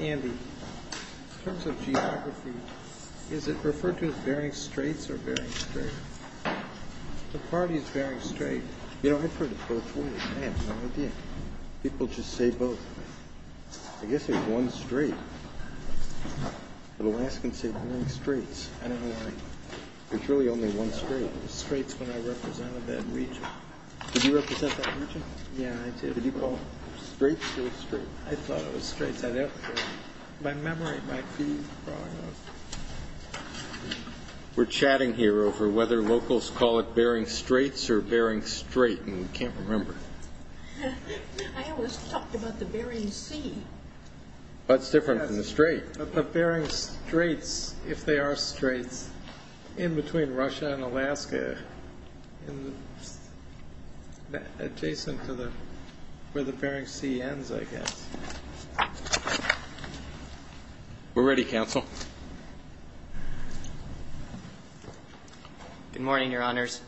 Andy, in terms of geography, is it referred to as Bering Straits or Bering Strait? The party is Bering Strait. You know, I've heard it both ways. I have no idea. People just say both. I guess there's one strait. The Alaskans say Bering Straits. I don't know why. There's really only one strait. I thought it was straits when I represented that region. Did you represent that region? Yeah, I did. Did you call it straits or strait? I thought it was straits. My memory might be wrong. We're chatting here over whether locals call it Bering Straits or Bering Strait, and we can't remember. I always talked about the Bering Sea. That's different from the strait. The Bering Straits, if they are straits, in between Russia and Alaska, adjacent to where the Bering Sea ends, I guess. We're ready, counsel. Good morning, Your Honors.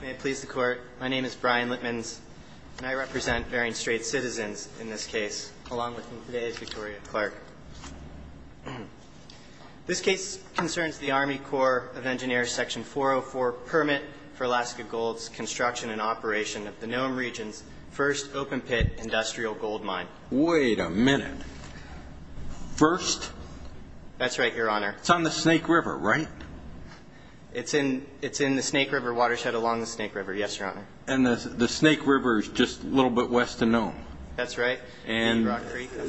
May it please the Court. My name is Brian Litmans, and I represent Bering Strait citizens in this case, along with Ms. Victoria Clark. This case concerns the Army Corps of Engineers Section 404 permit for Alaska Gold's construction and operation of the Nome region's first open pit industrial gold mine. Wait a minute. First? That's right, Your Honor. It's on the Snake River, right? It's in the Snake River watershed along the Snake River, yes, Your Honor. And the Snake River is just a little bit west of Nome. That's right. And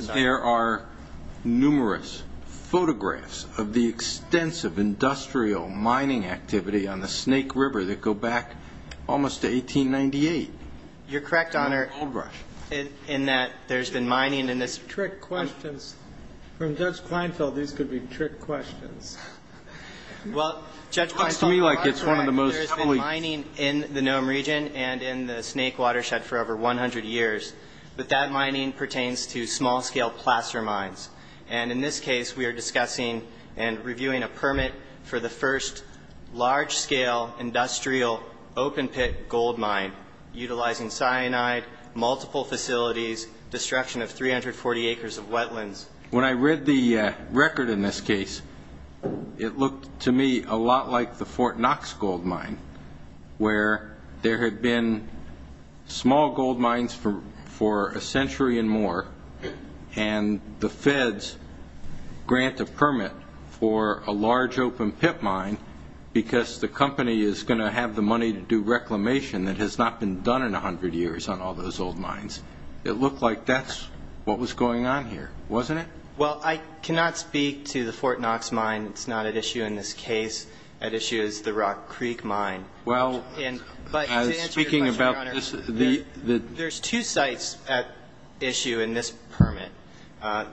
there are numerous photographs of the extensive industrial mining activity on the Snake River that go back almost to 1898. You're correct, Your Honor, in that there's been mining in this. These could be trick questions. From Judge Kleinfeld, these could be trick questions. Well, Judge Kleinfeld, that's right. There's been mining in the Nome region and in the Snake watershed for over 100 years, but that mining pertains to small-scale plaster mines. And in this case, we are discussing and reviewing a permit for the first large-scale industrial open pit gold mine, utilizing cyanide, multiple facilities, destruction of 340 acres of wetlands. When I read the record in this case, it looked to me a lot like the Fort Knox gold mine, where there had been small gold mines for a century and more, and the feds grant a permit for a large open pit mine because the company is going to have the money to do reclamation that has not been done in 100 years on all those old mines. It looked like that's what was going on here, wasn't it? Well, I cannot speak to the Fort Knox mine. It's not at issue in this case. At issue is the Rock Creek mine. Well, speaking about this, there's two sites at issue in this permit.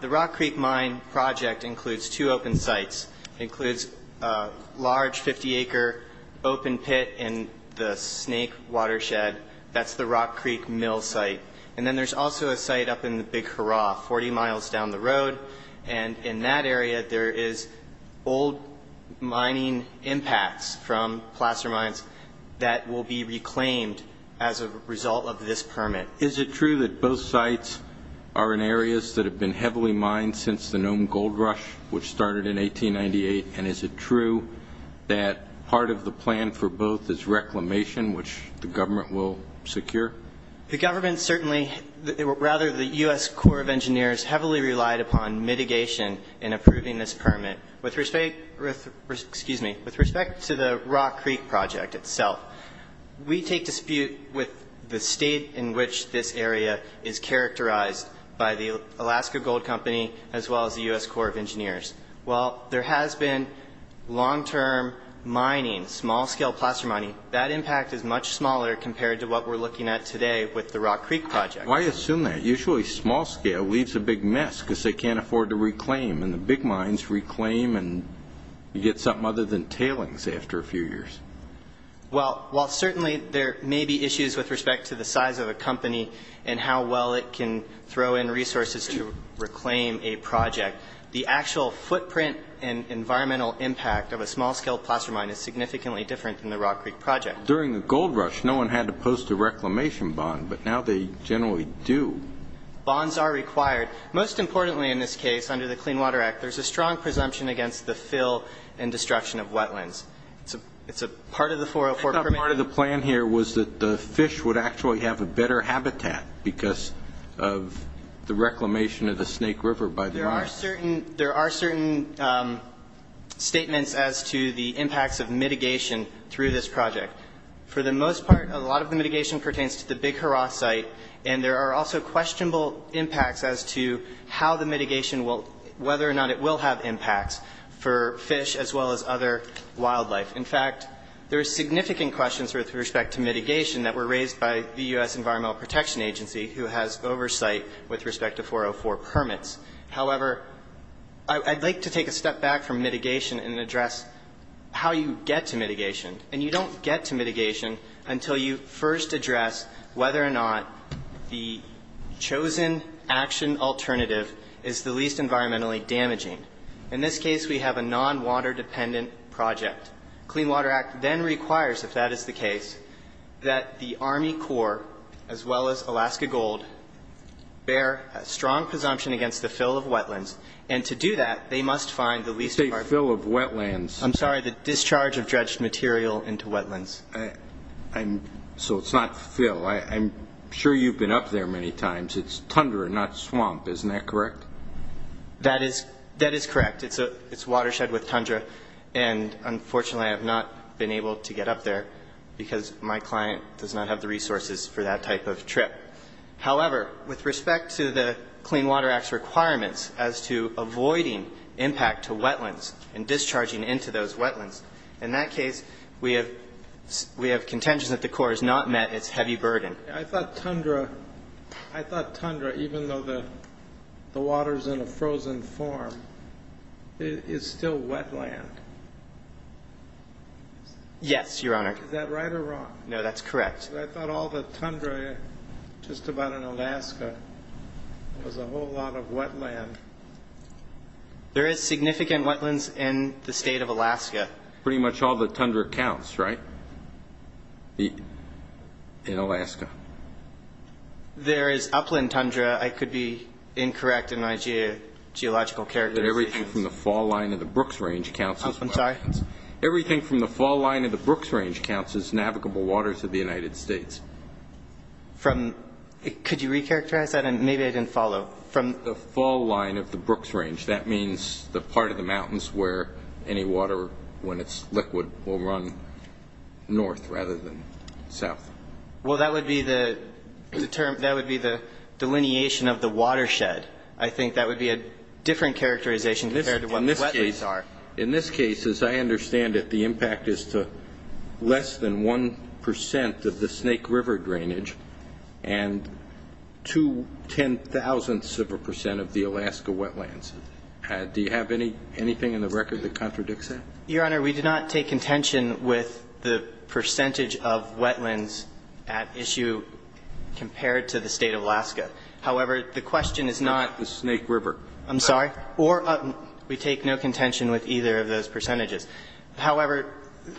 The Rock Creek mine project includes two open sites. It includes a large 50-acre open pit in the Snake watershed. That's the Rock Creek mill site. And then there's also a site up in the Big Hurrah, 40 miles down the road, and in that area there is old mining impacts from plaster mines that will be reclaimed as a result of this permit. Is it true that both sites are in areas that have been heavily mined since the Nome gold rush, which started in 1898, and is it true that part of the plan for both is reclamation, which the government will secure? The government certainly, or rather the U.S. Corps of Engineers, heavily relied upon mitigation in approving this permit with respect to the Rock Creek project itself. We take dispute with the state in which this area is characterized by the Alaska Gold Company as well as the U.S. Corps of Engineers. While there has been long-term mining, small-scale plaster mining, that impact is much smaller compared to what we're looking at today with the Rock Creek project. Why assume that? Usually small-scale leaves a big mess because they can't afford to reclaim, and the big mines reclaim and you get something other than tailings after a few years. Well, while certainly there may be issues with respect to the size of a company and how well it can throw in resources to reclaim a project, the actual footprint and environmental impact of a small-scale plaster mine is significantly different than the Rock Creek project. During the gold rush, no one had to post a reclamation bond, but now they generally do. Bonds are required. Most importantly in this case, under the Clean Water Act, there's a strong presumption against the fill and destruction of wetlands. It's a part of the 404 permit. I thought part of the plan here was that the fish would actually have a better habitat because of the reclamation of the Snake River by the mines. There are certain statements as to the impacts of mitigation through this project. For the most part, a lot of the mitigation pertains to the Big Hurrah site, and there are also questionable impacts as to how the mitigation will, whether or not it will have impacts for fish as well as other wildlife. In fact, there are significant questions with respect to mitigation that were raised by the U.S. Environmental Protection Agency who has oversight with respect to 404 permits. However, I'd like to take a step back from mitigation and address how you get to mitigation. And you don't get to mitigation until you first address whether or not the chosen action alternative is the least environmentally damaging. In this case, we have a non-water-dependent project. The Clean Water Act then requires, if that is the case, that the Army Corps, as well as Alaska Gold, bear a strong presumption against the fill of wetlands. And to do that, they must find the least part of it. You say fill of wetlands. I'm sorry, the discharge of dredged material into wetlands. So it's not fill. I'm sure you've been up there many times. It's tundra, not swamp. Isn't that correct? That is correct. It's watershed with tundra. And unfortunately, I have not been able to get up there because my client does not have the resources for that type of trip. However, with respect to the Clean Water Act's requirements as to avoiding impact to wetlands and discharging into those wetlands, in that case, we have contention that the Corps has not met its heavy burden. I thought tundra, even though the water is in a frozen form, is still wetland. Yes, Your Honor. Is that right or wrong? No, that's correct. I thought all the tundra just about in Alaska was a whole lot of wetland. There is significant wetlands in the state of Alaska. Pretty much all the tundra counts, right, in Alaska? There is upland tundra. I could be incorrect in my geological characterization. Everything from the fall line of the Brooks Range counts as wetlands. I'm sorry? Everything from the fall line of the Brooks Range counts as navigable waters of the United States. Could you recharacterize that? Maybe I didn't follow. From the fall line of the Brooks Range, that means the part of the mountains where any water, when it's liquid, will run north rather than south. Well, that would be the delineation of the watershed. I think that would be a different characterization compared to what the wetlands are. In this case, as I understand it, the impact is to less than 1 percent of the Snake River drainage and two ten-thousandths of a percent of the Alaska wetlands. Do you have anything in the record that contradicts that? Your Honor, we do not take contention with the percentage of wetlands at issue compared to the state of Alaska. However, the question is not the Snake River. I'm sorry? We take no contention with either of those percentages. However,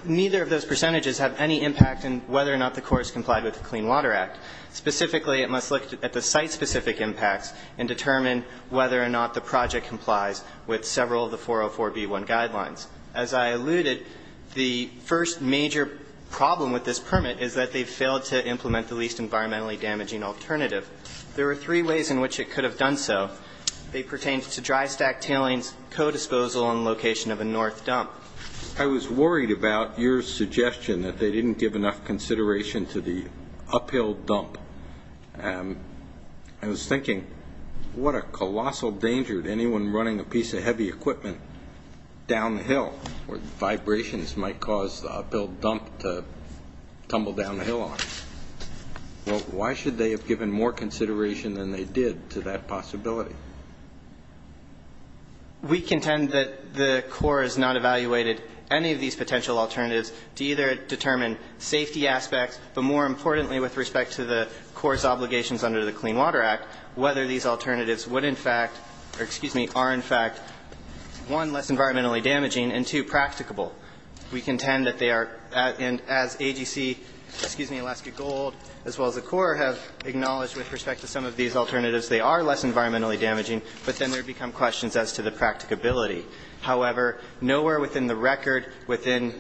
neither of those percentages have any impact in whether or not the courts complied with the Clean Water Act. Specifically, it must look at the site-specific impacts and determine whether or not the project complies with several of the 404b1 guidelines. As I alluded, the first major problem with this permit is that they failed to implement the least environmentally damaging alternative. There were three ways in which it could have done so. They pertained to dry stack tailings, co-disposal, and location of a north dump. I was worried about your suggestion that they didn't give enough consideration to the uphill dump. I was thinking, what a colossal danger to anyone running a piece of heavy equipment down the hill. Vibrations might cause the uphill dump to tumble down the hill on you. Well, why should they have given more consideration than they did to that possibility? We contend that the Corps has not evaluated any of these potential alternatives to either determine safety aspects, but more importantly with respect to the Corps' obligations under the Clean Water Act, whether these alternatives would in fact, or excuse me, are in fact, one, less environmentally damaging, and two, practicable. We contend that they are, and as AGC, excuse me, Alaska Gold, as well as the Corps, have acknowledged with respect to some of these alternatives, they are less environmentally damaging, but then there become questions as to the practicability. However, nowhere within the record within,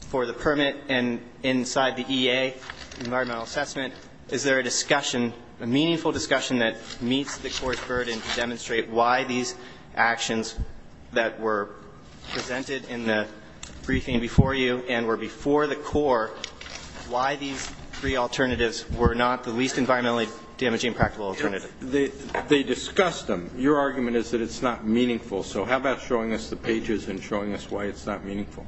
for the permit and inside the EA, environmental assessment, is there a discussion, a meaningful discussion that meets the Corps' burden to demonstrate why these actions that were presented in the briefing before you and were before the Corps, why these three alternatives were not the least environmentally damaging practical alternative. They discussed them. Your argument is that it's not meaningful. So how about showing us the pages and showing us why it's not meaningful.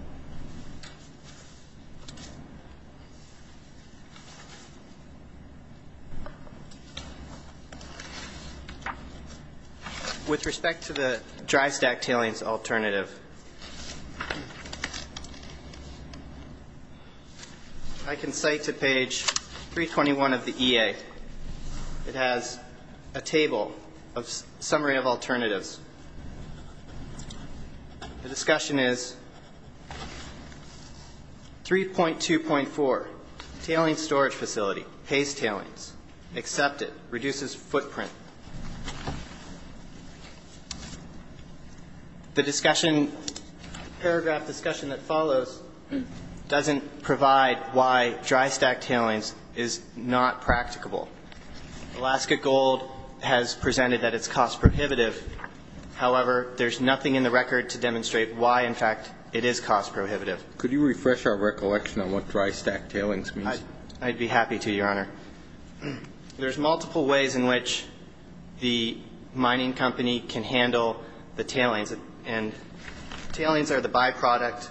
With respect to the dry stack tailings alternative, I can cite to page 321 of the EA. It has a table of summary of alternatives. The discussion is 3.2.4, tailings storage facility, pays tailings, accept it, reduces footprint. The discussion, paragraph discussion that follows doesn't provide why dry stack tailings is not practical. Alaska Gold has presented that it's cost prohibitive. However, there's nothing in the record to demonstrate why, in fact, it is cost prohibitive. Could you refresh our recollection on what dry stack tailings means? I'd be happy to, Your Honor. There's multiple ways in which the mining company can handle the tailings, and tailings are the byproduct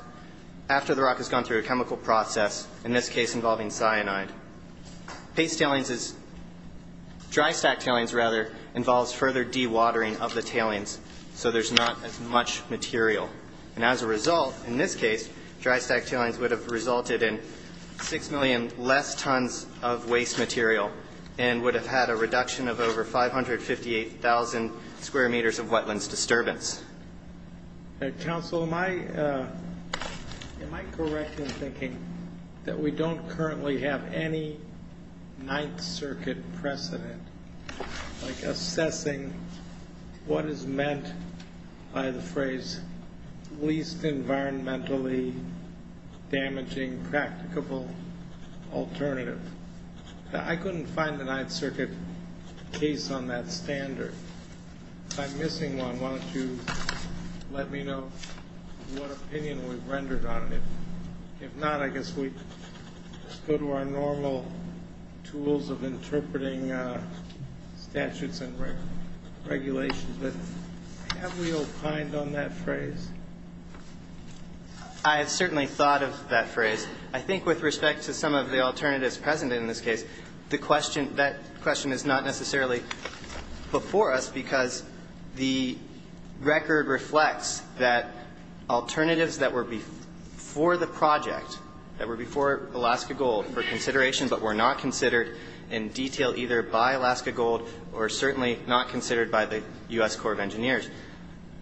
after the rock has gone through a chemical process, in this case involving cyanide. Pays tailings is dry stack tailings, rather, involves further dewatering of the tailings, so there's not as much material. And as a result, in this case, dry stack tailings would have resulted in 6 million less tons of waste material and would have had a reduction of over 558,000 square meters of wetlands disturbance. Counsel, am I correct in thinking that we don't currently have any Ninth Circuit precedent like assessing what is meant by the phrase least environmentally damaging practicable alternative? I couldn't find the Ninth Circuit case on that standard. If I'm missing one, why don't you let me know what opinion we've rendered on it. If not, I guess we go to our normal tools of interpreting statutes and regulations. But have we opined on that phrase? I have certainly thought of that phrase. I think with respect to some of the alternatives present in this case, that question is not necessarily before us because the record reflects that alternatives that were before the project, that were before Alaska Gold for consideration but were not considered in detail either by Alaska Gold or certainly not considered by the U.S. Corps of Engineers,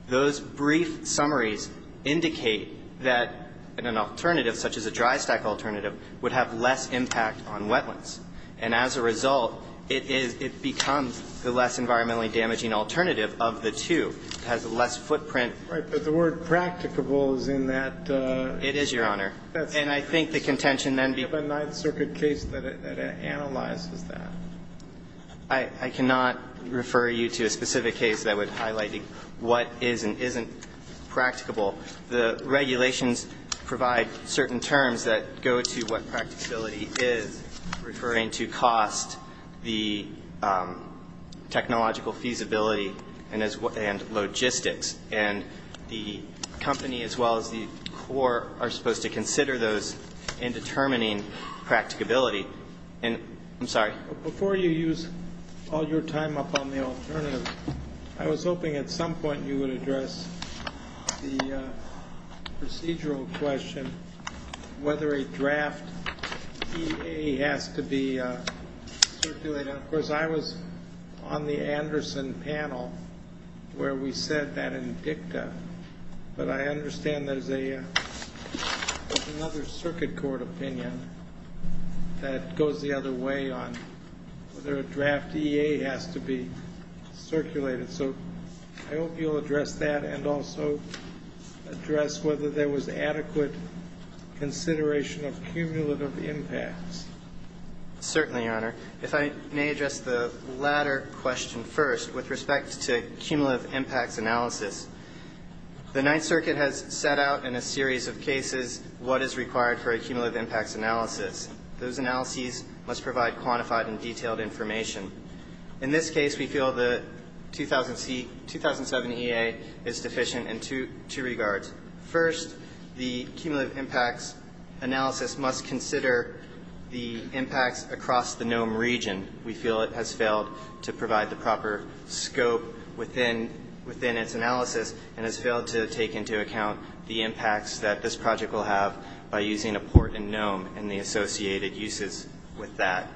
those brief summaries indicate that an alternative, such as a dry stack alternative, would have less impact on wetlands. And as a result, it becomes the less environmentally damaging alternative of the two. It has less footprint. Right. But the word practicable is in that. It is, Your Honor. And I think the contention then becomes. Do you have a Ninth Circuit case that analyzes that? I cannot refer you to a specific case that would highlight what is and isn't practicable. The regulations provide certain terms that go to what practicability is, referring to cost, the technological feasibility, and logistics. And the company as well as the Corps are supposed to consider those in determining practicability. And I'm sorry. Before you use all your time up on the alternative, I was hoping at some point you would address the procedural question, whether a draft EA has to be circulated. Of course, I was on the Anderson panel where we said that in dicta. But I understand there's another circuit court opinion that goes the other way on whether a draft EA has to be circulated. So I hope you'll address that and also address whether there was adequate Certainly, Your Honor. If I may address the latter question first with respect to cumulative impacts analysis. The Ninth Circuit has set out in a series of cases what is required for a cumulative impacts analysis. Those analyses must provide quantified and detailed information. In this case, we feel the 2007 EA is deficient in two regards. First, the cumulative impacts analysis must consider the impacts across the Nome region. We feel it has failed to provide the proper scope within its analysis and has failed to take into account the impacts that this project will have by using a port in Nome and the associated uses with that.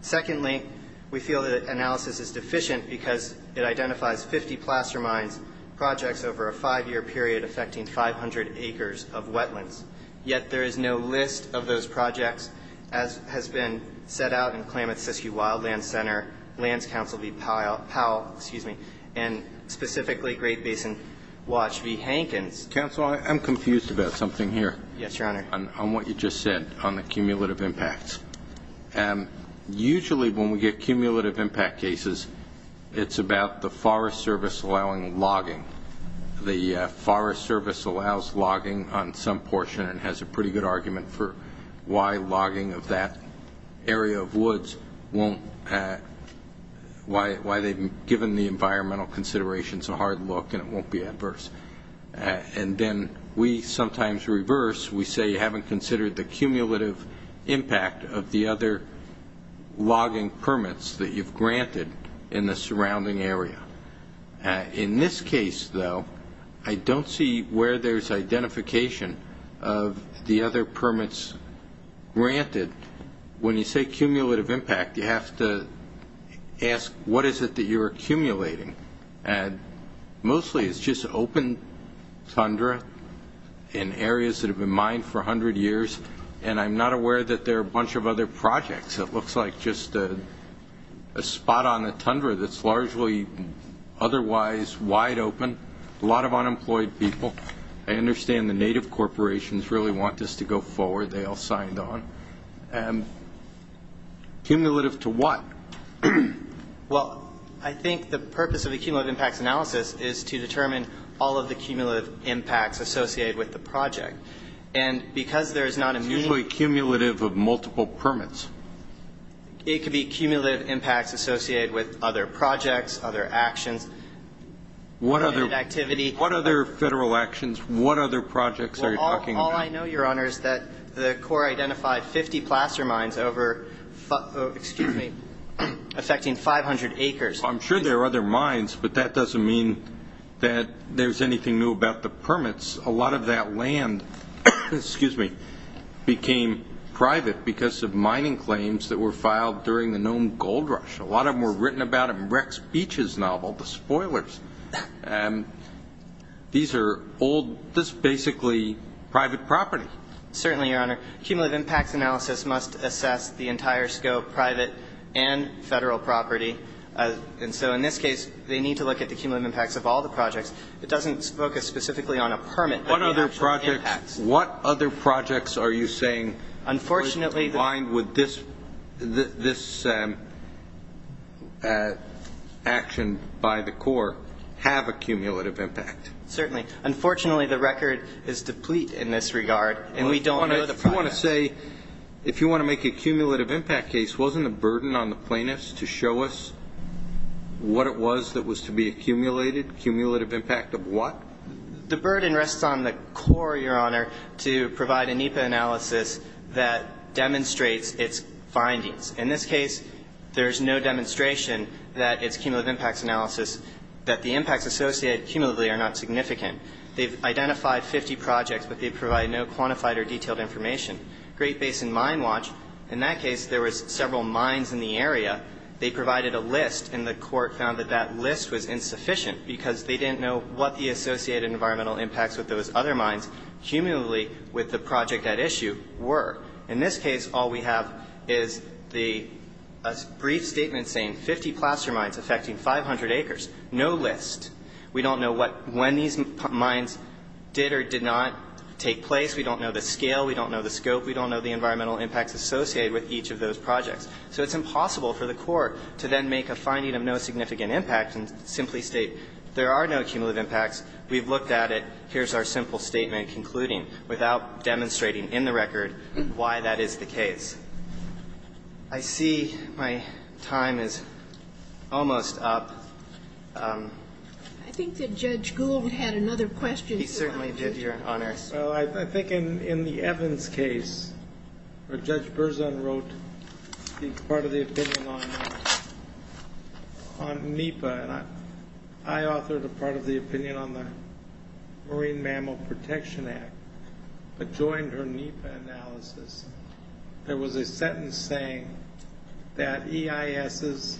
Secondly, we feel that analysis is deficient because it identifies 50 placer mines, projects over a five-year period affecting 500 acres of wetlands. Yet there is no list of those projects as has been set out in Klamath Siskiyou Wildland Center, Lands Council v. Powell, and specifically Great Basin Watch v. Hankins. Counsel, I'm confused about something here. Yes, Your Honor. On what you just said on the cumulative impacts. Usually when we get cumulative impact cases, it's about the Forest Service allowing logging. The Forest Service allows logging on some portion and has a pretty good argument for why logging of that area of woods won't, why they've given the environmental considerations a hard look and it won't be adverse. And then we sometimes reverse. We say you haven't considered the cumulative impact of the other logging permits that you've granted in the surrounding area. In this case, though, I don't see where there's identification of the other permits granted. When you say cumulative impact, you have to ask what is it that you're accumulating. And mostly it's just open tundra in areas that have been mined for 100 years. And I'm not aware that there are a bunch of other projects. It looks like just a spot on the tundra that's largely otherwise wide open. A lot of unemployed people. I understand the native corporations really want this to go forward. They all signed on. Cumulative to what? Well, I think the purpose of a cumulative impacts analysis is to determine all of the cumulative impacts associated with the project. And because there's not a meeting. It's usually cumulative of multiple permits. It could be cumulative impacts associated with other projects, other actions. What other federal actions? What other projects are you talking about? All I know, Your Honor, is that the Corps identified 50 plaster mines affecting 500 acres. I'm sure there are other mines, but that doesn't mean that there's anything new about the permits. A lot of that land became private because of mining claims that were filed during the Nome Gold Rush. A lot of them were written about in Rex Beach's novel, The Spoilers. These are all just basically private property. Certainly, Your Honor. Cumulative impacts analysis must assess the entire scope, private and federal property. And so in this case, they need to look at the cumulative impacts of all the projects. It doesn't focus specifically on a permit. What other projects are you saying are combined with this action by the Corps? Have a cumulative impact. Certainly. Unfortunately, the record is deplete in this regard, and we don't know the product. If you want to say, if you want to make a cumulative impact case, wasn't the burden on the plaintiffs to show us what it was that was to be accumulated? Cumulative impact of what? The burden rests on the Corps, Your Honor, to provide a NEPA analysis that demonstrates its findings. In this case, there's no demonstration that it's cumulative impacts analysis, that the impacts associated cumulatively are not significant. They've identified 50 projects, but they provide no quantified or detailed information. Great Basin Mine Watch, in that case, there was several mines in the area. They provided a list, and the court found that that list was insufficient because they didn't know what the associated environmental impacts with those other mines cumulatively with the project at issue were. In this case, all we have is the brief statement saying 50 plaster mines affecting 500 acres. No list. We don't know when these mines did or did not take place. We don't know the scale. We don't know the scope. We don't know the environmental impacts associated with each of those projects. So it's impossible for the Corps to then make a finding of no significant impact and simply state there are no cumulative impacts. We've looked at it. Here's our simple statement concluding, without demonstrating in the record why that is the case. I see my time is almost up. I think that Judge Gould had another question. He certainly did, Your Honor. Well, I think in the Evans case, where Judge Berzon wrote part of the opinion on NEPA, and I authored a part of the opinion on the Marine Mammal Protection Act, but joined her NEPA analysis. There was a sentence saying that EISs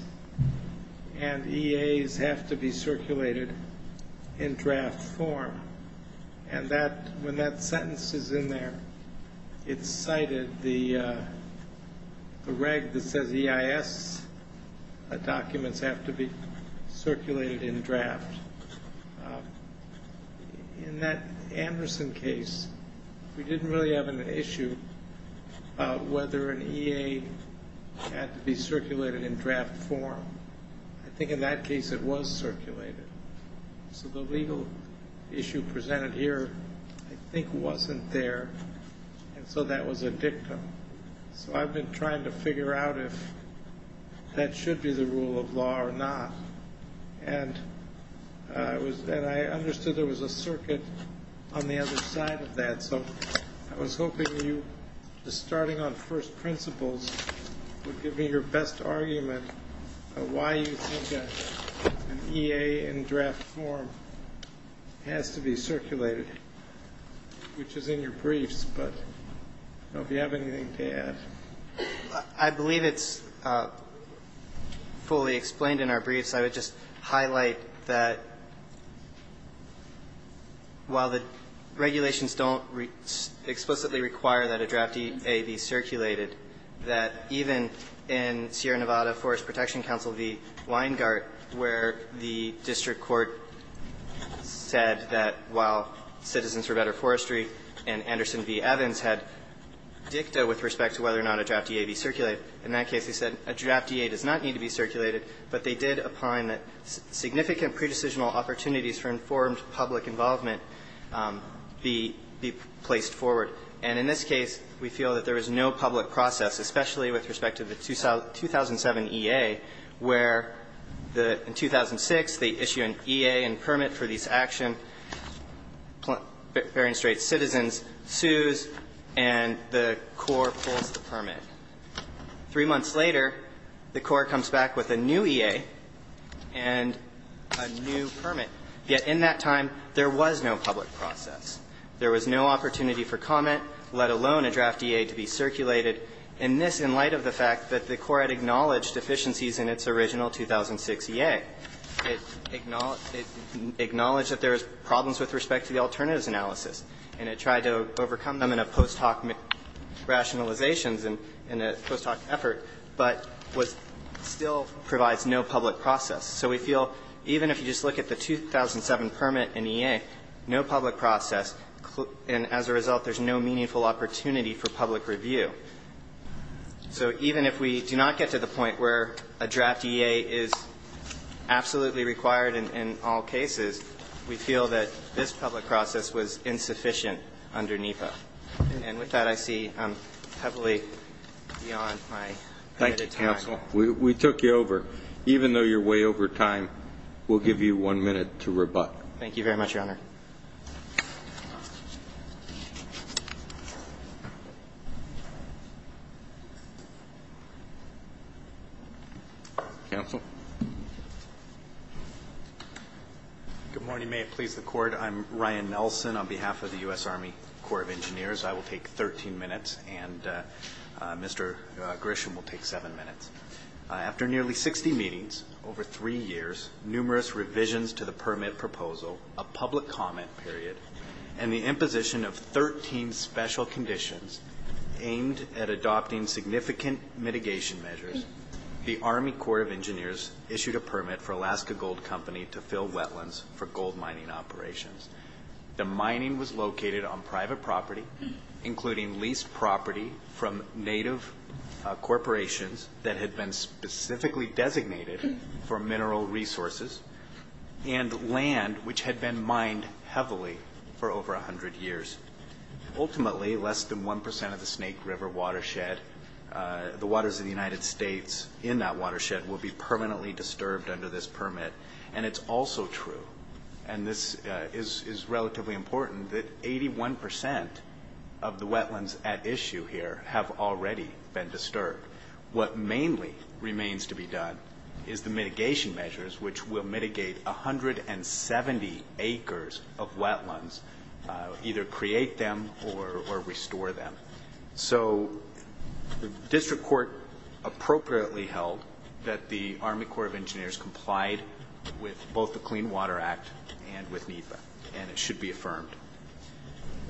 and EAs have to be circulated in draft form. And when that sentence is in there, it's cited the reg that says EIS documents have to be circulated in draft. In that Anderson case, we didn't really have an issue about whether an EA had to be circulated in draft form. I think in that case it was circulated. So the legal issue presented here, I think, wasn't there. And so that was a dictum. So I've been trying to figure out if that should be the rule of law or not. And I understood there was a circuit on the other side of that. So I was hoping you, just starting on first principles, would give me your best argument on why you think an EA in draft form has to be circulated, which is in your briefs. But I don't know if you have anything to add. I believe it's fully explained in our briefs. I would just highlight that while the regulations don't explicitly require that a draft EA be circulated, that even in Sierra Nevada Forest Protection Council v. Weingart, where the district court said that while Citizens for Better Forestry and Anderson v. Evans had dicta with respect to whether or not a draft EA be circulated, in that case they said a draft EA does not need to be circulated, but they did opine that significant pre-decisional opportunities for informed public involvement be placed forward. And in this case, we feel that there is no public process, especially with respect to the 2007 EA, where in 2006 they issue an EA and permit for these action, bearing straight Citizens, sues, and the Corps pulls the permit. Three months later, the Corps comes back with a new EA and a new permit. Yet in that time, there was no public process. There was no opportunity for comment, let alone a draft EA to be circulated, and this in light of the fact that the Corps had acknowledged deficiencies in its original 2006 EA. It acknowledged that there was problems with respect to the alternatives analysis, and it tried to overcome them in a post hoc rationalization, in a post hoc effort, but still provides no public process. So we feel even if you just look at the 2007 permit and EA, no public process, and as a result, there's no meaningful opportunity for public review. So even if we do not get to the point where a draft EA is absolutely required in all cases, we feel that this public process was insufficient under NEPA. And with that, I see heavily beyond my time. Thank you, Counsel. We took you over. Even though you're way over time, we'll give you one minute to rebut. Thank you very much, Your Honor. Counsel? Good morning. May it please the Court. I'm Ryan Nelson on behalf of the U.S. Army Corps of Engineers. I will take 13 minutes, and Mr. Grisham will take seven minutes. After nearly 60 meetings, over three years, numerous revisions to the permit proposal, a public comment period, and the imposition of 13 special conditions aimed at adopting significant mitigation measures, the Army Corps of Engineers issued a permit for Alaska Gold Company to fill wetlands for gold mining operations. The mining was located on private property, including leased property from native corporations that had been specifically designated for mineral resources and land which had been mined heavily for over 100 years. Ultimately, less than 1% of the Snake River watershed, the waters of the United States in that watershed, will be permanently disturbed under this permit, and it's also true. And this is relatively important that 81% of the wetlands at issue here have already been disturbed. What mainly remains to be done is the mitigation measures, which will mitigate 170 acres of wetlands, either create them or restore them. So the district court appropriately held that the Army Corps of Engineers complied with both the Clean Water Act and with NEPA, and it should be affirmed.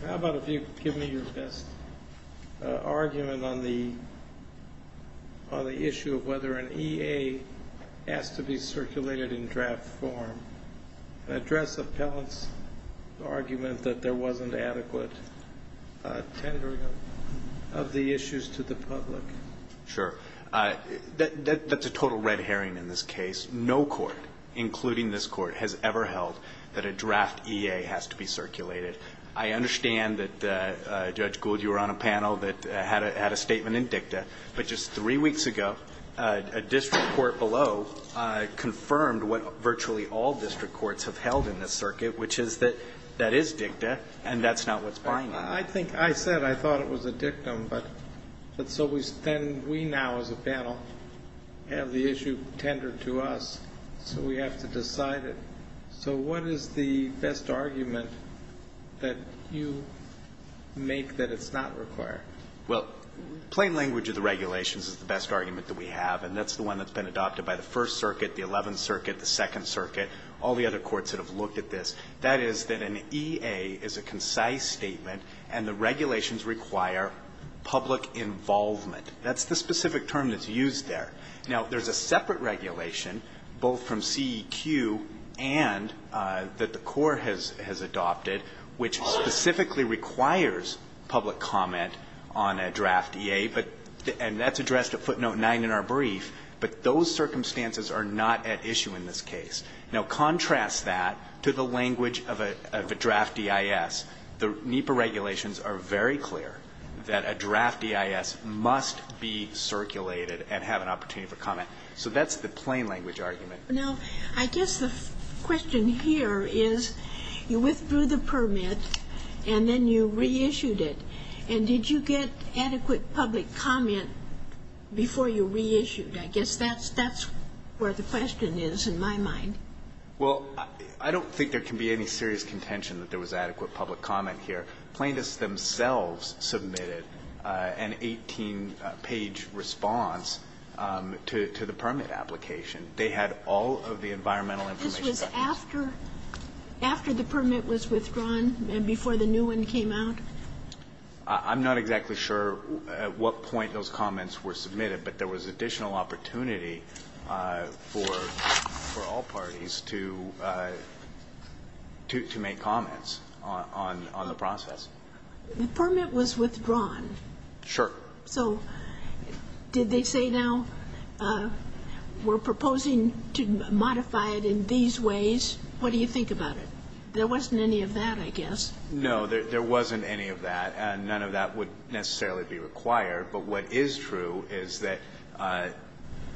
How about if you give me your best argument on the issue of whether an EA has to be circulated in draft form and address appellant's argument that there wasn't adequate tendering of the issues to the public? Sure. That's a total red herring in this case. No court, including this court, has ever held that a draft EA has to be circulated. I understand that, Judge Gould, you were on a panel that had a statement in dicta, but just three weeks ago a district court below confirmed what virtually all district courts have held in this circuit, which is that that is dicta and that's not what's binding. I think I said I thought it was a dictum, but so we now as a panel have the issue tendered to us, so we have to decide it. So what is the best argument that you make that it's not required? Well, plain language of the regulations is the best argument that we have, and that's the one that's been adopted by the First Circuit, the Eleventh Circuit, the Second Circuit, all the other courts that have looked at this. That is that an EA is a concise statement and the regulations require public involvement. That's the specific term that's used there. Now, there's a separate regulation, both from CEQ and that the court has adopted, which specifically requires public comment on a draft EA, and that's addressed at footnote 9 in our brief, but those circumstances are not at issue in this case. Now, contrast that to the language of a draft EIS. The NEPA regulations are very clear that a draft EIS must be circulated and have an opportunity for comment. So that's the plain language argument. Now, I guess the question here is you withdrew the permit and then you reissued it. And did you get adequate public comment before you reissued? I guess that's where the question is in my mind. Well, I don't think there can be any serious contention that there was adequate public comment here. Plaintiffs themselves submitted an 18-page response to the permit application. They had all of the environmental information. This was after the permit was withdrawn and before the new one came out? I'm not exactly sure at what point those comments were submitted, but there was additional opportunity for all parties to make comments on the process. The permit was withdrawn. Sure. So did they say now we're proposing to modify it in these ways? What do you think about it? There wasn't any of that, I guess. No, there wasn't any of that, and none of that would necessarily be required. But what is true is that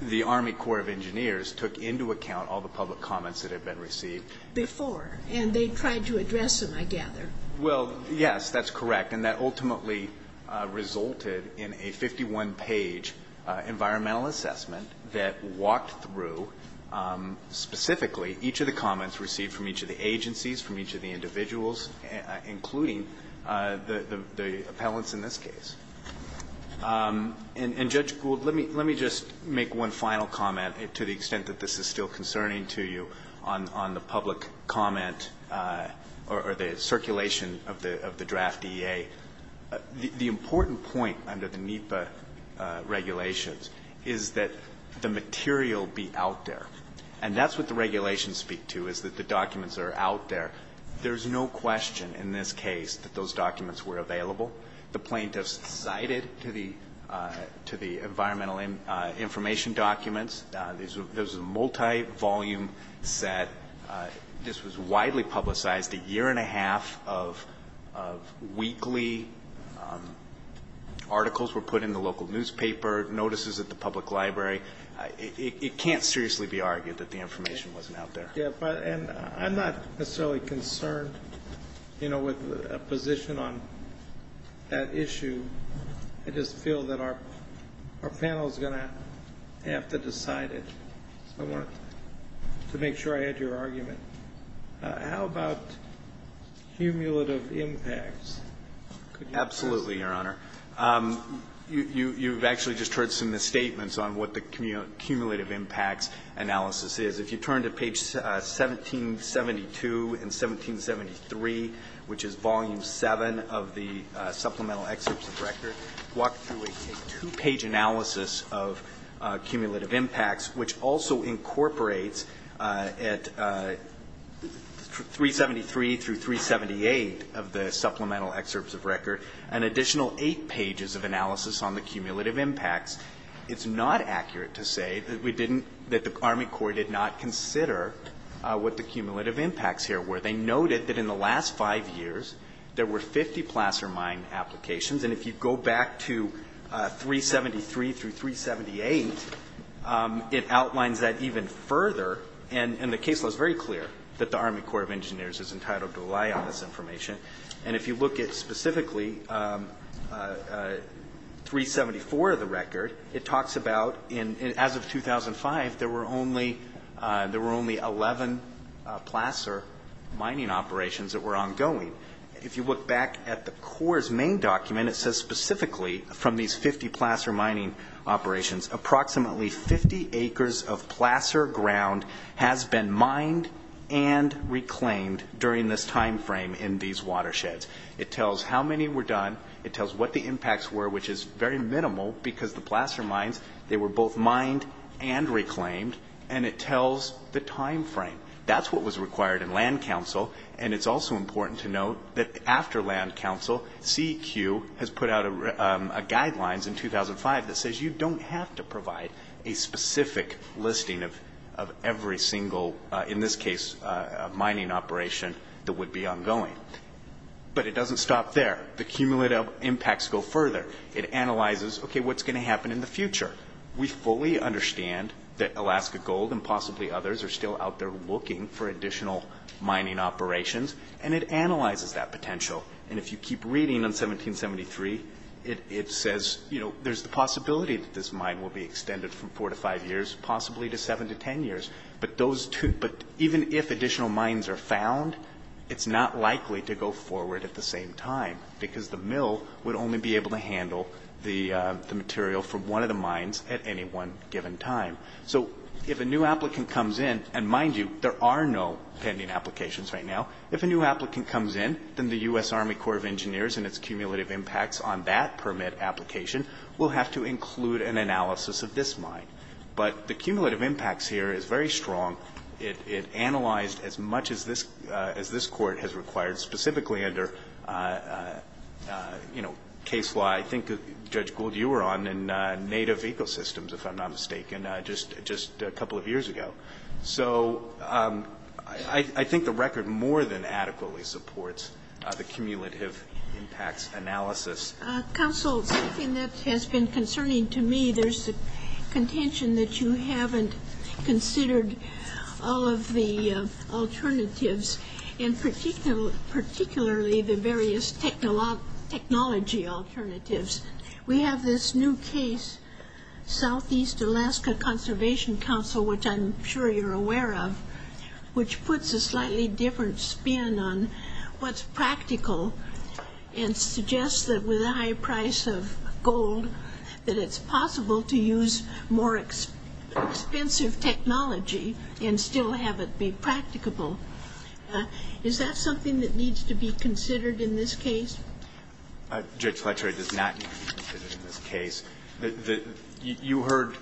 the Army Corps of Engineers took into account all the public comments that had been received. Before, and they tried to address them, I gather. Well, yes, that's correct. And that ultimately resulted in a 51-page environmental assessment that walked through specifically each of the comments received from each of the agencies, from each of the individuals, including the appellants in this case. And, Judge Gould, let me just make one final comment, to the extent that this is still concerning to you, on the public comment or the circulation of the draft EA. The important point under the NEPA regulations is that the material be out there. And that's what the regulations speak to, is that the documents are out there. There's no question in this case that those documents were available. The plaintiffs cited to the environmental information documents. There was a multi-volume set. This was widely publicized. A year and a half of weekly articles were put in the local newspaper, notices at the public library. It can't seriously be argued that the information wasn't out there. And I'm not necessarily concerned, you know, with a position on that issue. I just feel that our panel is going to have to decide it. I wanted to make sure I had your argument. How about cumulative impacts? Absolutely, Your Honor. You've actually just heard some of the statements on what the cumulative impacts analysis is. If you turn to page 1772 and 1773, which is volume 7 of the supplemental excerpts of record, walk through a two-page analysis of cumulative impacts, which also incorporates at 373 through 378 of the supplemental excerpts of record an additional eight pages of analysis on the cumulative impacts. It's not accurate to say that we didn't, that the Army Corps did not consider what the cumulative impacts here were. They noted that in the last five years there were 50 placer mine applications. And if you go back to 373 through 378, it outlines that even further. And the case law is very clear that the Army Corps of Engineers is entitled to rely on this information. And if you look at specifically 374 of the record, it talks about, as of 2005, there were only 11 placer mining operations that were ongoing. If you look back at the Corps' main document, it says specifically from these 50 placer mining operations, approximately 50 acres of placer ground has been mined and reclaimed during this time frame in these watersheds. It tells how many were done. It tells what the impacts were, which is very minimal, because the placer mines, they were both mined and reclaimed, and it tells the time frame. That's what was required in land council, and it's also important to note that after land council, CEQ has put out guidelines in 2005 that says you don't have to provide a specific listing of every single, in this case, mining operation that would be ongoing. But it doesn't stop there. The cumulative impacts go further. It analyzes, okay, what's going to happen in the future. We fully understand that Alaska Gold and possibly others are still out there looking for additional mining operations, and it analyzes that potential. And if you keep reading on 1773, it says, you know, there's the possibility that this mine will be extended from 4 to 5 years, possibly to 7 to 10 years. But even if additional mines are found, it's not likely to go forward at the same time, because the mill would only be able to handle the material from one of the mines at any one given time. So if a new applicant comes in, and mind you, there are no pending applications right now. If a new applicant comes in, then the U.S. Army Corps of Engineers and its cumulative impacts on that permit application will have to include an analysis of this mine. But the cumulative impacts here is very strong. It analyzed as much as this Court has required, specifically under, you know, case law. I think, Judge Gould, you were on in Native Ecosystems, if I'm not mistaken, just a couple of years ago. So I think the record more than adequately supports the cumulative impacts analysis. Counsel, something that has been concerning to me, there's the contention that you haven't considered all of the alternatives, and particularly the various technology alternatives. We have this new case, Southeast Alaska Conservation Council, which I'm sure you're aware of, which puts a slightly different spin on what's practical and suggests that with a high price of gold that it's possible to use more expensive technology and still have it be practicable. Is that something that needs to be considered in this case? Judge Fletcher, it does not need to be considered in this case. You heard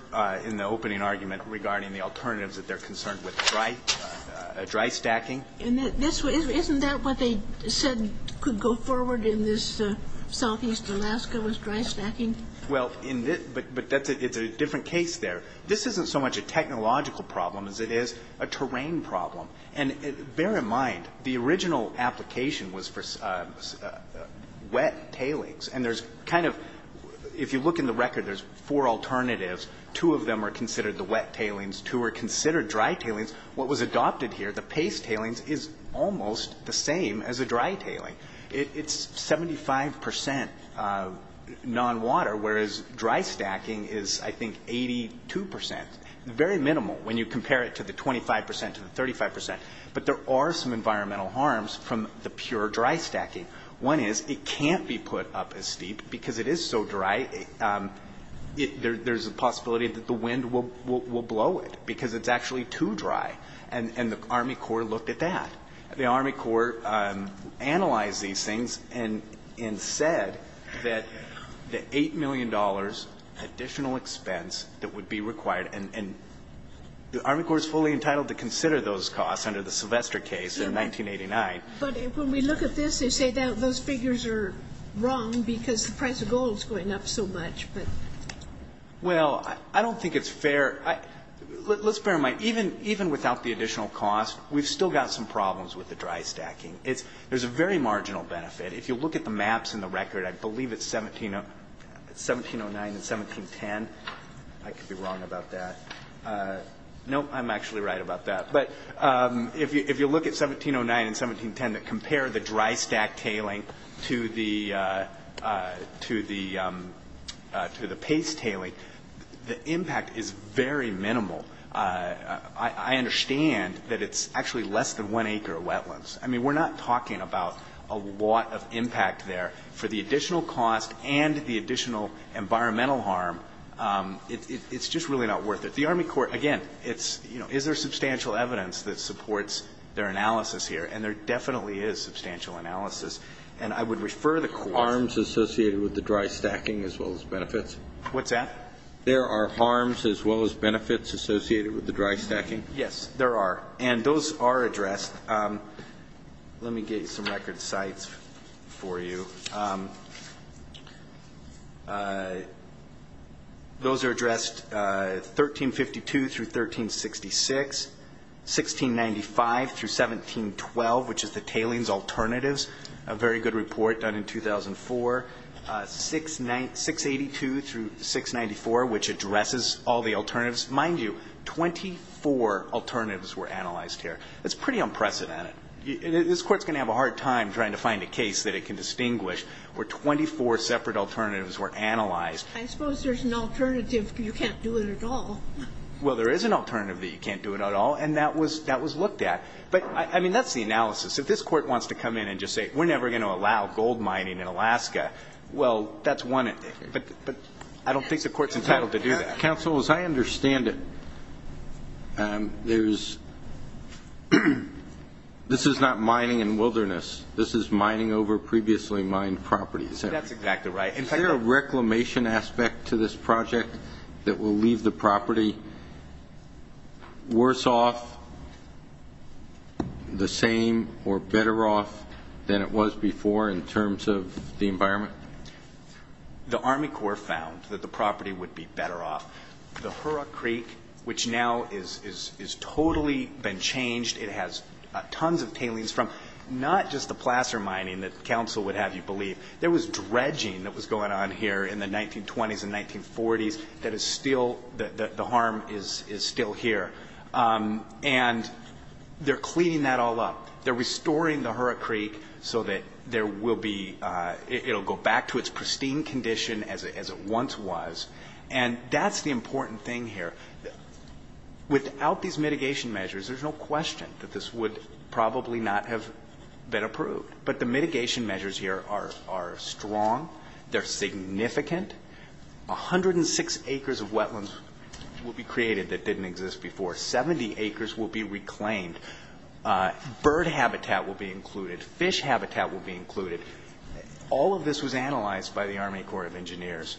in the opening argument regarding the alternatives that they're concerned with dry stacking. Isn't that what they said could go forward in this Southeast Alaska was dry stacking? Well, but it's a different case there. This isn't so much a technological problem as it is a terrain problem. And bear in mind, the original application was for wet tailings. And there's kind of, if you look in the record, there's four alternatives. Two of them are considered the wet tailings. Two are considered dry tailings. What was adopted here, the paste tailings, is almost the same as a dry tailing. It's 75 percent non-water, whereas dry stacking is, I think, 82 percent. Very minimal when you compare it to the 25 percent to the 35 percent. But there are some environmental harms from the pure dry stacking. One is it can't be put up as steep because it is so dry. There's a possibility that the wind will blow it because it's actually too dry. And the Army Corps looked at that. The Army Corps analyzed these things and said that the $8 million additional expense that would be required. And the Army Corps is fully entitled to consider those costs under the Sylvester case in 1989. But when we look at this, they say that those figures are wrong because the price of gold is going up so much. Well, I don't think it's fair. Let's bear in mind, even without the additional cost, we've still got some problems with the dry stacking. There's a very marginal benefit. If you look at the maps in the record, I believe it's 1709 and 1710. I could be wrong about that. No, I'm actually right about that. But if you look at 1709 and 1710 that compare the dry stack tailing to the paste tailing, the impact is very minimal. I understand that it's actually less than one acre of wetlands. I mean, we're not talking about a lot of impact there. For the additional cost and the additional environmental harm, it's just really not worth it. The Army Corps, again, it's, you know, is there substantial evidence that supports their analysis here? And there definitely is substantial analysis. And I would refer the Court to the Army Corps. Are there harms associated with the dry stacking as well as benefits? What's that? There are harms as well as benefits associated with the dry stacking? Yes, there are. And those are addressed. Let me get you some record sites for you. Those are addressed 1352 through 1366, 1695 through 1712, which is the tailings alternatives, a very good report done in 2004, 682 through 694, which addresses all the alternatives. Mind you, 24 alternatives were analyzed here. That's pretty unprecedented. This Court's going to have a hard time trying to find a case that it can distinguish where 24 separate alternatives were analyzed. I suppose there's an alternative that you can't do it at all. Well, there is an alternative that you can't do it at all, and that was looked at. But, I mean, that's the analysis. If this Court wants to come in and just say we're never going to allow gold mining in Alaska, well, that's one. But I don't think the Court's entitled to do that. Counsel, as I understand it, this is not mining in wilderness. This is mining over previously mined properties. That's exactly right. Is there a reclamation aspect to this project that will leave the property worse off, the same, or better off than it was before in terms of the environment? The Army Corps found that the property would be better off. The Hurra Creek, which now has totally been changed. It has tons of tailings from not just the placer mining that counsel would have you believe. There was dredging that was going on here in the 1920s and 1940s that is still the harm is still here. And they're cleaning that all up. They're restoring the Hurra Creek so that it will go back to its pristine condition as it once was. And that's the important thing here. Without these mitigation measures, there's no question that this would probably not have been approved. But the mitigation measures here are strong. They're significant. 106 acres of wetlands will be created that didn't exist before. 70 acres will be reclaimed. Bird habitat will be included. Fish habitat will be included. All of this was analyzed by the Army Corps of Engineers.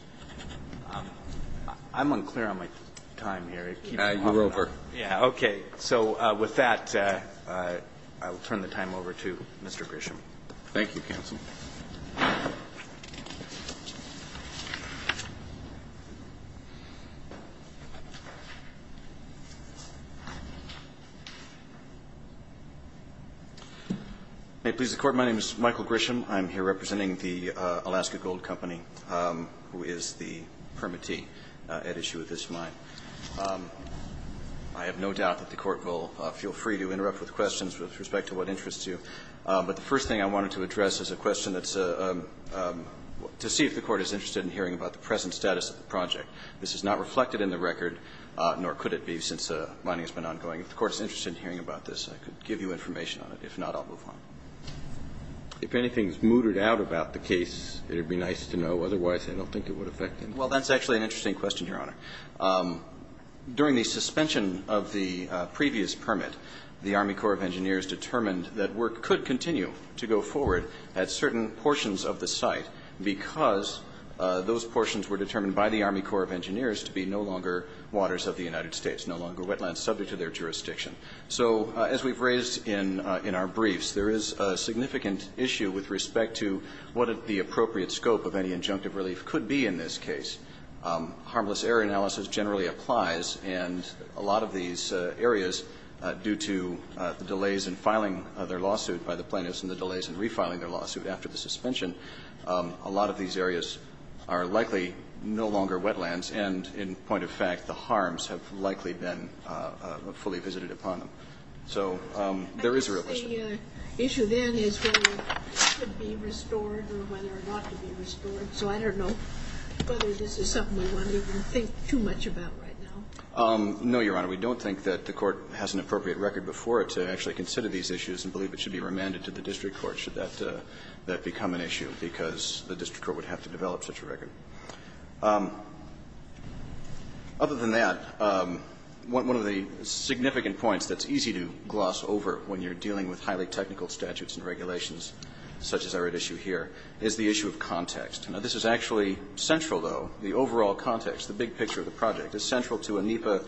I'm unclear on my time here. You're over. Okay. So with that, I will turn the time over to Mr. Grisham. Thank you, counsel. May it please the Court. My name is Michael Grisham. I'm here representing the Alaska Gold Company, who is the permittee at issue with this mine. I have no doubt that the Court will feel free to interrupt with questions with respect to what interests you. But the first thing I wanted to address is a question that's to see if the Court is interested in hearing about the present status of the project. This is not reflected in the record, nor could it be since mining has been ongoing. If the Court is interested in hearing about this, I could give you information on it. If not, I'll move on. If anything is mooted out about the case, it would be nice to know. Otherwise, I don't think it would affect anything. Well, that's actually an interesting question, Your Honor. During the suspension of the previous permit, the Army Corps of Engineers determined that work could continue to go forward at certain portions of the site, because those portions were determined by the Army Corps of Engineers to be no longer waters of the United States, no longer wetlands subject to their jurisdiction. So as we've raised in our briefs, there is a significant issue with respect to what the appropriate scope of any injunctive relief could be in this case. Harmless error analysis generally applies, and a lot of these areas, due to the delays in filing their lawsuit by the plaintiffs and the delays in refiling their lawsuit after the suspension, a lot of these areas are likely no longer wetlands, and in point of fact, the harms have likely been fully visited upon them. So there is a real issue. I guess the issue then is whether it could be restored or whether or not to be restored. So I don't know whether this is something we want to even think too much about right now. No, Your Honor. We don't think that the Court has an appropriate record before it to actually consider these issues and believe it should be remanded to the district court should that become an issue, because the district court would have to develop such a record. Other than that, one of the significant points that's easy to gloss over when you're dealing with highly technical statutes and regulations such as are at issue here is the issue of context. Now, this is actually central, though. The overall context, the big picture of the project, is central to a NEPA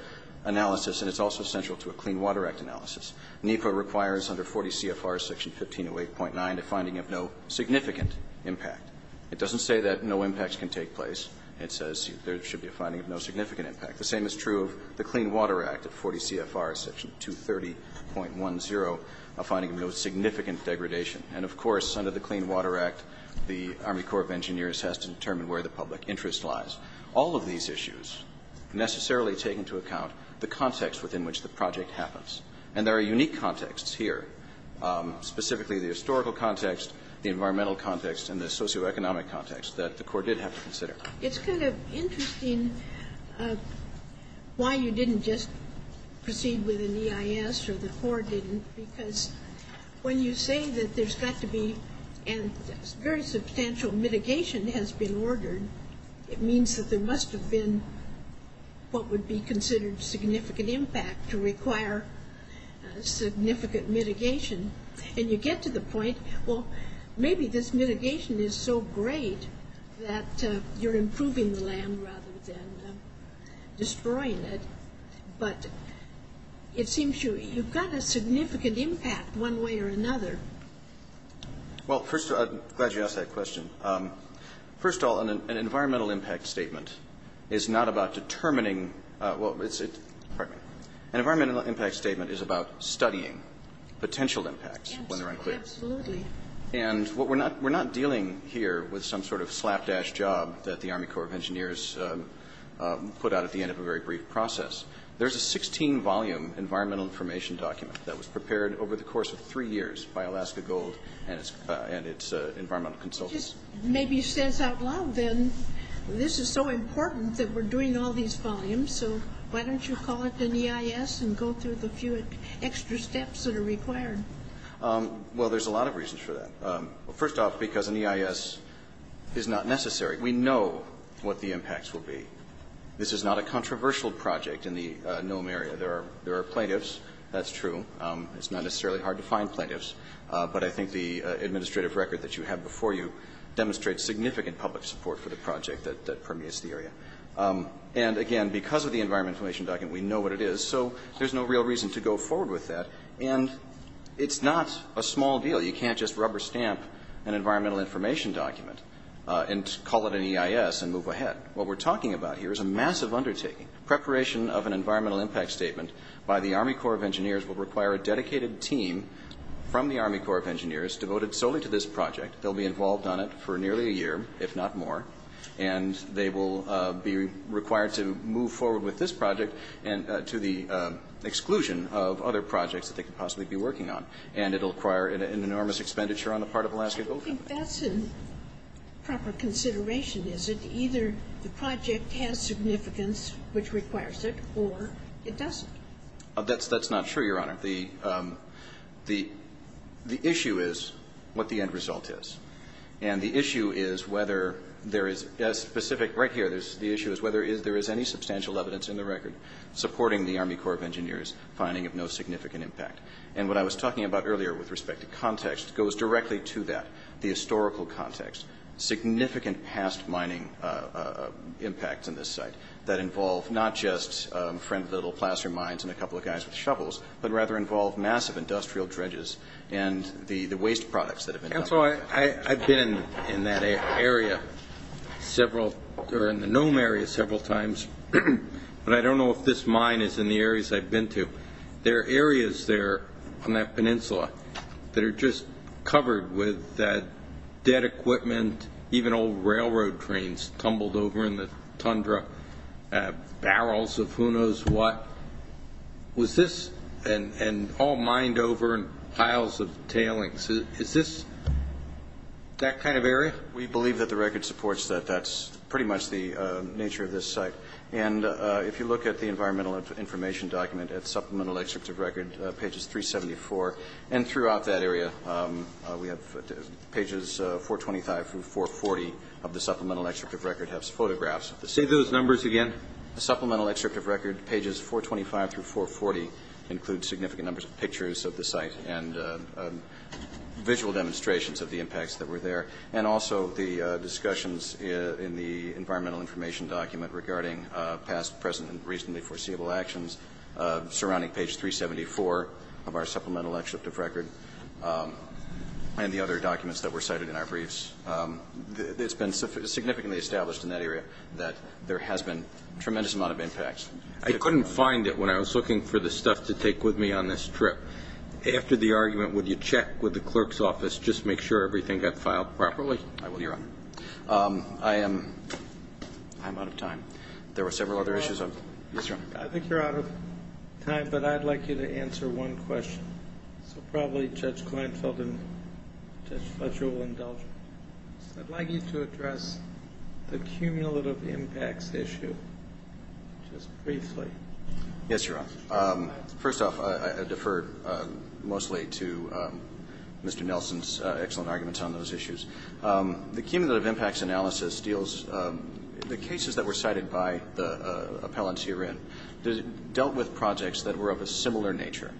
analysis and it's also central to a Clean Water Act analysis. NEPA requires under 40 CFR section 1508.9 a finding of no significant impact. It doesn't say that no impacts can take place. It says there should be a finding of no significant impact. The same is true of the Clean Water Act at 40 CFR section 230.10, a finding of no significant degradation. And, of course, under the Clean Water Act, the Army Corps of Engineers has to determine where the public interest lies. All of these issues necessarily take into account the context within which the project happens. And there are unique contexts here, specifically the historical context, the environmental context, and the socioeconomic context that the Court did have to consider. It's kind of interesting why you didn't just proceed with an EIS or the Court didn't, because when you say that there's got to be a very substantial mitigation has been ordered, it means that there must have been what would be considered significant impact to require significant mitigation. And you get to the point, well, maybe this mitigation is so great that you're improving the land rather than destroying it. But it seems you've got a significant impact one way or another. Well, first of all, I'm glad you asked that question. First of all, an environmental impact statement is not about determining well, pardon me. An environmental impact statement is about studying potential impacts when they're unclear. Yes, absolutely. And we're not dealing here with some sort of slapdash job that the Army Corps of Engineers put out at the end of a very brief process. There's a 16-volume environmental information document that was prepared over the course of three years by Alaska Gold and its environmental consultants. It just maybe stands out loud, then. This is so important that we're doing all these volumes, so why don't you call it an EIS and go through the few extra steps that are required? Well, there's a lot of reasons for that. First off, because an EIS is not necessary. We know what the impacts will be. This is not a controversial project in the Nome area. There are plaintiffs. That's true. It's not necessarily hard to find plaintiffs. But I think the administrative record that you have before you demonstrates significant public support for the project that permeates the area. And, again, because of the environmental information document, we know what it is. So there's no real reason to go forward with that. And it's not a small deal. You can't just rubber stamp an environmental information document and call it an EIS and move ahead. What we're talking about here is a massive undertaking. Preparation of an environmental impact statement by the Army Corps of Engineers will require a dedicated team from the Army Corps of Engineers devoted solely to this project. They'll be involved on it for nearly a year, if not more. And they will be required to move forward with this project to the exclusion of other projects that they could possibly be working on. And it will require an enormous expenditure on the part of Alaska Oil Company. I don't think that's a proper consideration, is it? Either the project has significance, which requires it, or it doesn't. That's not true, Your Honor. The issue is what the end result is. And the issue is whether there is a specific right here. The issue is whether there is any substantial evidence in the record supporting the Army Corps of Engineers finding of no significant impact. And what I was talking about earlier with respect to context goes directly to that, the historical context. Significant past mining impacts on this site that involve not just friend little placer mines and a couple of guys with shovels, but rather involve massive industrial dredges and the waste products that have been dumped. Counselor, I've been in that area several or in the Nome area several times, but I don't know if this mine is in the areas I've been to. There are areas there on that peninsula that are just covered with dead equipment, even old railroad trains tumbled over in the tundra, barrels of who knows what. Was this all mined over in piles of tailings? Is this that kind of area? We believe that the record supports that. That's pretty much the nature of this site. If you look at the environmental information document at Supplemental Excerpt of Record, pages 374 and throughout that area, pages 425 through 440 of the Supplemental Excerpt of Record have photographs. Say those numbers again. The Supplemental Excerpt of Record, pages 425 through 440, include significant numbers of pictures of the site and visual demonstrations of the impacts that were there and also the discussions in the environmental information document regarding past, present, and recently foreseeable actions surrounding page 374 of our Supplemental Excerpt of Record and the other documents that were cited in our briefs. It's been significantly established in that area that there has been a tremendous amount of impacts. I couldn't find it when I was looking for the stuff to take with me on this trip. After the argument, would you check with the clerk's office, just make sure everything got filed properly? I will, Your Honor. I am out of time. There were several other issues. I think you're out of time, but I'd like you to answer one question. So probably Judge Kleinfeld and Judge Fletcher will indulge me. I'd like you to address the cumulative impacts issue just briefly. Yes, Your Honor. First off, I defer mostly to Mr. Nelson's excellent arguments on those issues. The cumulative impacts analysis deals, the cases that were cited by the appellants herein, dealt with projects that were of a similar nature,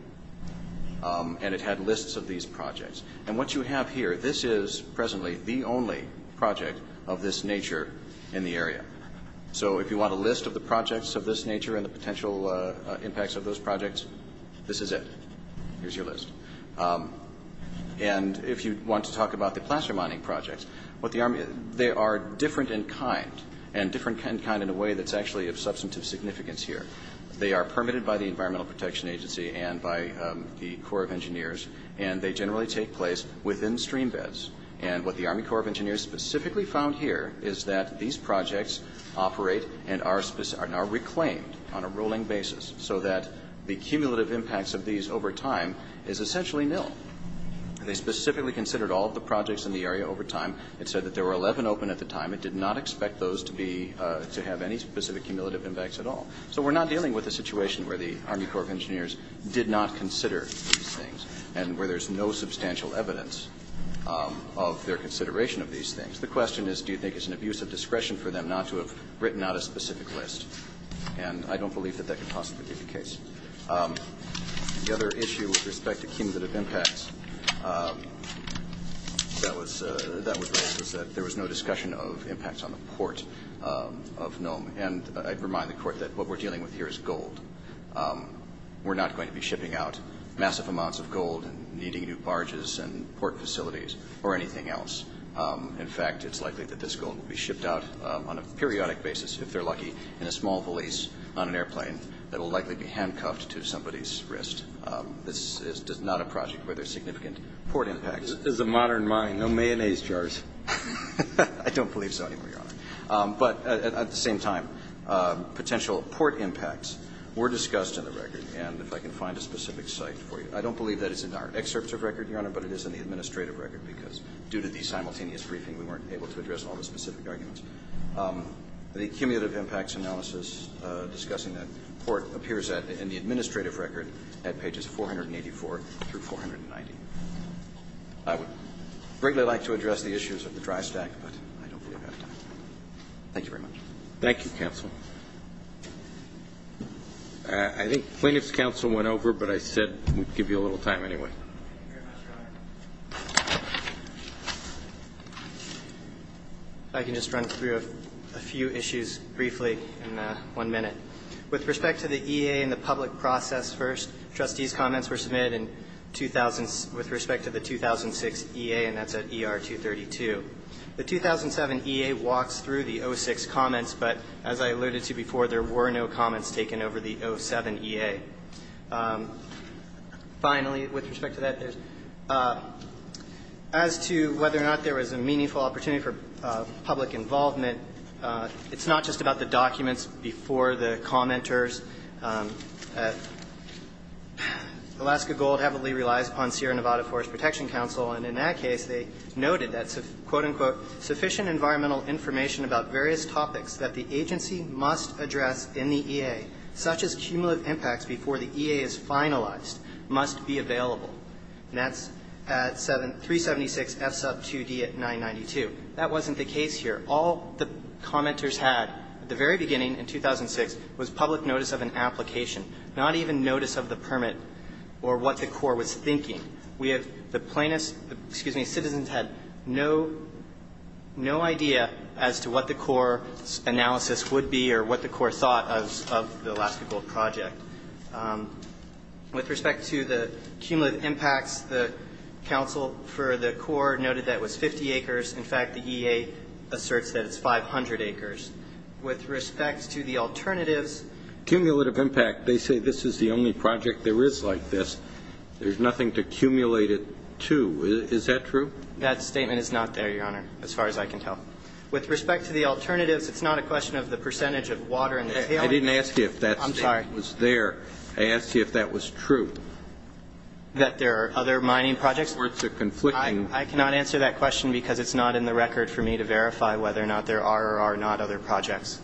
and it had lists of these projects. And what you have here, this is presently the only project of this nature in the area. So if you want a list of the projects of this nature and the potential impacts of those projects, this is it. Here's your list. And if you want to talk about the placer mining projects, they are different in kind and different in kind in a way that's actually of substantive significance here. They are permitted by the Environmental Protection Agency and by the Corps of Engineers, and they generally take place within stream beds. And what the Army Corps of Engineers specifically found here is that these projects operate and are reclaimed on a rolling basis so that the cumulative impacts of these over time is essentially nil. They specifically considered all of the projects in the area over time. It said that there were 11 open at the time. It did not expect those to be, to have any specific cumulative impacts at all. So we're not dealing with a situation where the Army Corps of Engineers did not consider these things and where there's no substantial evidence of their consideration of these things. The question is, do you think it's an abuse of discretion for them not to have written out a specific list? And I don't believe that that could possibly be the case. The other issue with respect to cumulative impacts that was raised was that there was no discussion of impacts on the port of Nome. And I'd remind the Court that what we're dealing with here is gold. We're not going to be shipping out massive amounts of gold and needing new barges and port facilities or anything else. In fact, it's likely that this gold will be shipped out on a periodic basis, if they're lucky, in a small valise on an airplane that will likely be handcuffed to somebody's wrist. This is not a project where there's significant port impacts. This is a modern mine. No mayonnaise jars. I don't believe so anymore, Your Honor. But at the same time, potential port impacts were discussed in the record. And if I can find a specific site for you. I don't believe that it's in our excerpt of record, Your Honor, but it is in the administrative record, because due to the simultaneous briefing, we weren't able to address all the specific arguments. The cumulative impacts analysis discussing that port appears in the administrative record at pages 484 through 490. I would greatly like to address the issues of the dry stack, but I don't believe I have time. Thank you very much. Thank you, counsel. I think plaintiff's counsel went over, but I said we'd give you a little time anyway. I can just run through a few issues briefly in one minute. With respect to the EA and the public process first, trustees' comments were submitted in 2000 with respect to the 2006 EA, and that's at ER 232. The 2007 EA walks through the 06 comments, but as I alluded to before, there were no comments taken over the 07 EA. Finally, with respect to that, as to whether or not there was a meaningful opportunity for public involvement, it's not just about the documents before the commenters. Alaska Gold heavily relies upon Sierra Nevada Forest Protection Council, and in that case, they noted that, quote, unquote, sufficient environmental information about various topics that the agency must address in the EA, such as cumulative impacts before the EA is finalized, must be available. And that's at 376 F sub 2D at 992. That wasn't the case here. All the commenters had at the very beginning in 2006 was public notice of an application, not even notice of the permit or what the Corps was thinking. We have the plainest citizens had no idea as to what the Corps' analysis would be or what the Corps thought of the Alaska Gold project. With respect to the cumulative impacts, the council for the Corps noted that it was 50 acres. In fact, the EA asserts that it's 500 acres. With respect to the alternatives. Cumulative impact, they say this is the only project there is like this. There's nothing to accumulate it to. Is that true? That statement is not there, Your Honor, as far as I can tell. With respect to the alternatives, it's not a question of the percentage of water in the tailings. I didn't ask you if that statement was there. I asked you if that was true. That there are other mining projects? Words are conflicting. I cannot answer that question because it's not in the record for me to verify whether or not there are or are not other projects.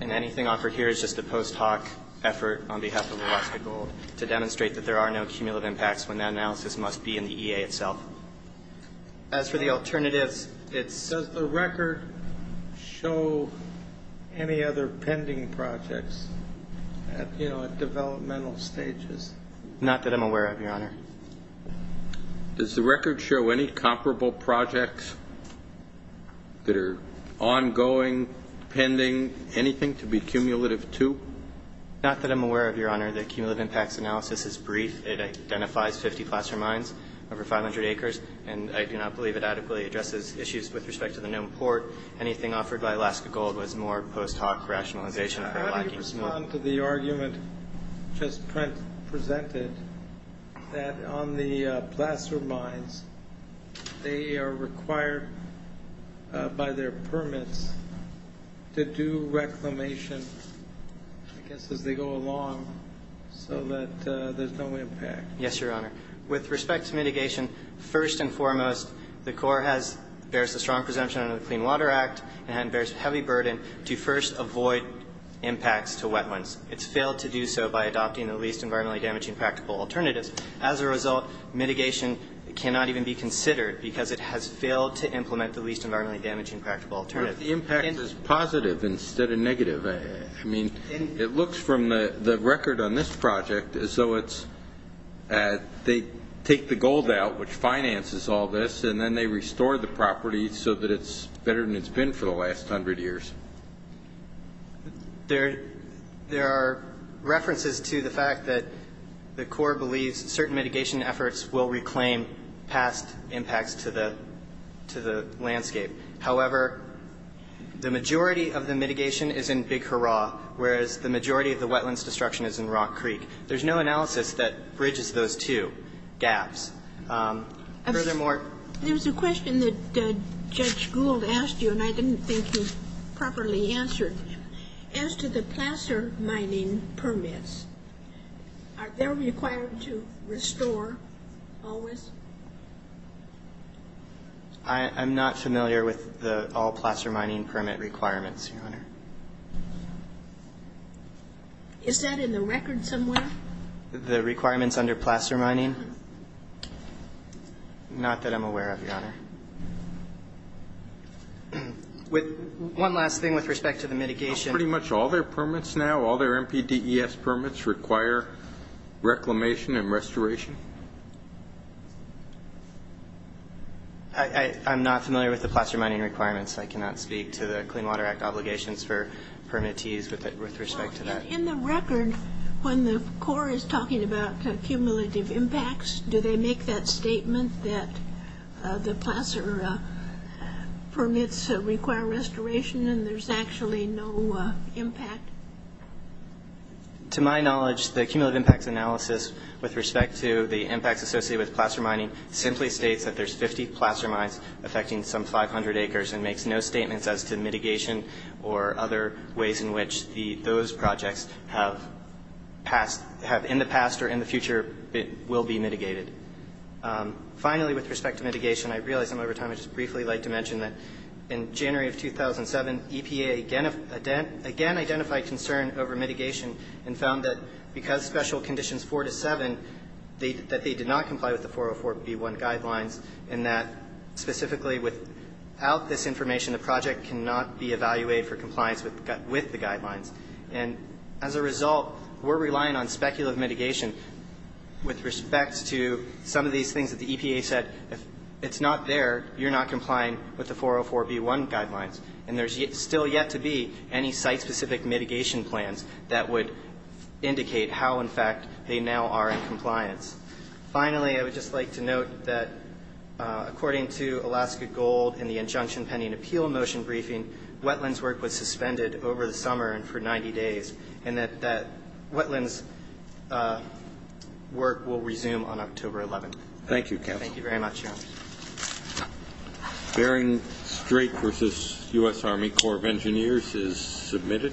And anything offered here is just a post hoc effort on behalf of Alaska Gold to demonstrate that there are no cumulative impacts when that analysis must be in the EA itself. As for the alternatives, it's the record. Does the record show any other pending projects at developmental stages? Not that I'm aware of, Your Honor. Does the record show any comparable projects that are ongoing, pending, anything to be cumulative to? Not that I'm aware of, Your Honor. The cumulative impacts analysis is brief. It identifies 50 placer mines over 500 acres, and I do not believe it adequately addresses issues with respect to the known port. Anything offered by Alaska Gold was more post hoc rationalization. How do you respond to the argument just presented that on the placer mines, they are required by their permits to do reclamation, I guess, as they go along, so that there's no impact? Yes, Your Honor. With respect to mitigation, first and foremost, the Corps bears a strong presumption under the Clean Water Act and bears a heavy burden to first avoid impacts to wetlands. It's failed to do so by adopting the least environmentally damaging practical alternatives. As a result, mitigation cannot even be considered because it has failed to implement the least environmentally damaging practical alternatives. But if the impact is positive instead of negative, I mean, it looks from the record on this project as though it's they take the gold out, which finances all this, and then they restore the property so that it's better than it's been for the last 100 years. There are references to the fact that the Corps believes certain mitigation efforts will reclaim past impacts to the landscape. However, the majority of the mitigation is in Big Hurrah, whereas the majority of the wetlands destruction is in Rock Creek. There's no analysis that bridges those two gaps. Furthermore ---- There was a question that Judge Gould asked you, and I didn't think he properly answered. As to the placer mining permits, are they required to restore always? I'm not familiar with all placer mining permit requirements, Your Honor. Is that in the record somewhere? The requirements under placer mining? Not that I'm aware of, Your Honor. One last thing with respect to the mitigation. Pretty much all their permits now, all their MPDES permits, require reclamation and restoration? I'm not familiar with the placer mining requirements. I cannot speak to the Clean Water Act obligations for permittees with respect to that. In the record, when the Corps is talking about cumulative impacts, do they make that statement that the placer permits require restoration and there's actually no impact? To my knowledge, the cumulative impacts analysis with respect to the impacts associated with placer mining simply states that there's 50 placer mines affecting some 500 acres and makes no statements as to mitigation or other ways in which those projects have in the past or in the future will be mitigated. Finally, with respect to mitigation, I realize I'm over time. I'd just briefly like to mention that in January of 2007, EPA again identified concern over mitigation and found that because special conditions 4 to 7, that they did not comply with the 404B1 guidelines and that specifically without this information, the project cannot be evaluated for compliance with the guidelines. And as a result, we're relying on speculative mitigation with respect to some of these things that the EPA said, if it's not there, you're not complying with the 404B1 guidelines. And there's still yet to be any site-specific mitigation plans Finally, I would just like to note that according to Alaska Gold and the injunction pending appeal motion briefing, wetlands work was suspended over the summer and for 90 days and that wetlands work will resume on October 11th. Thank you, Counsel. Thank you very much, Your Honor. Bearing Strait versus U.S. Army Corps of Engineers is submitted.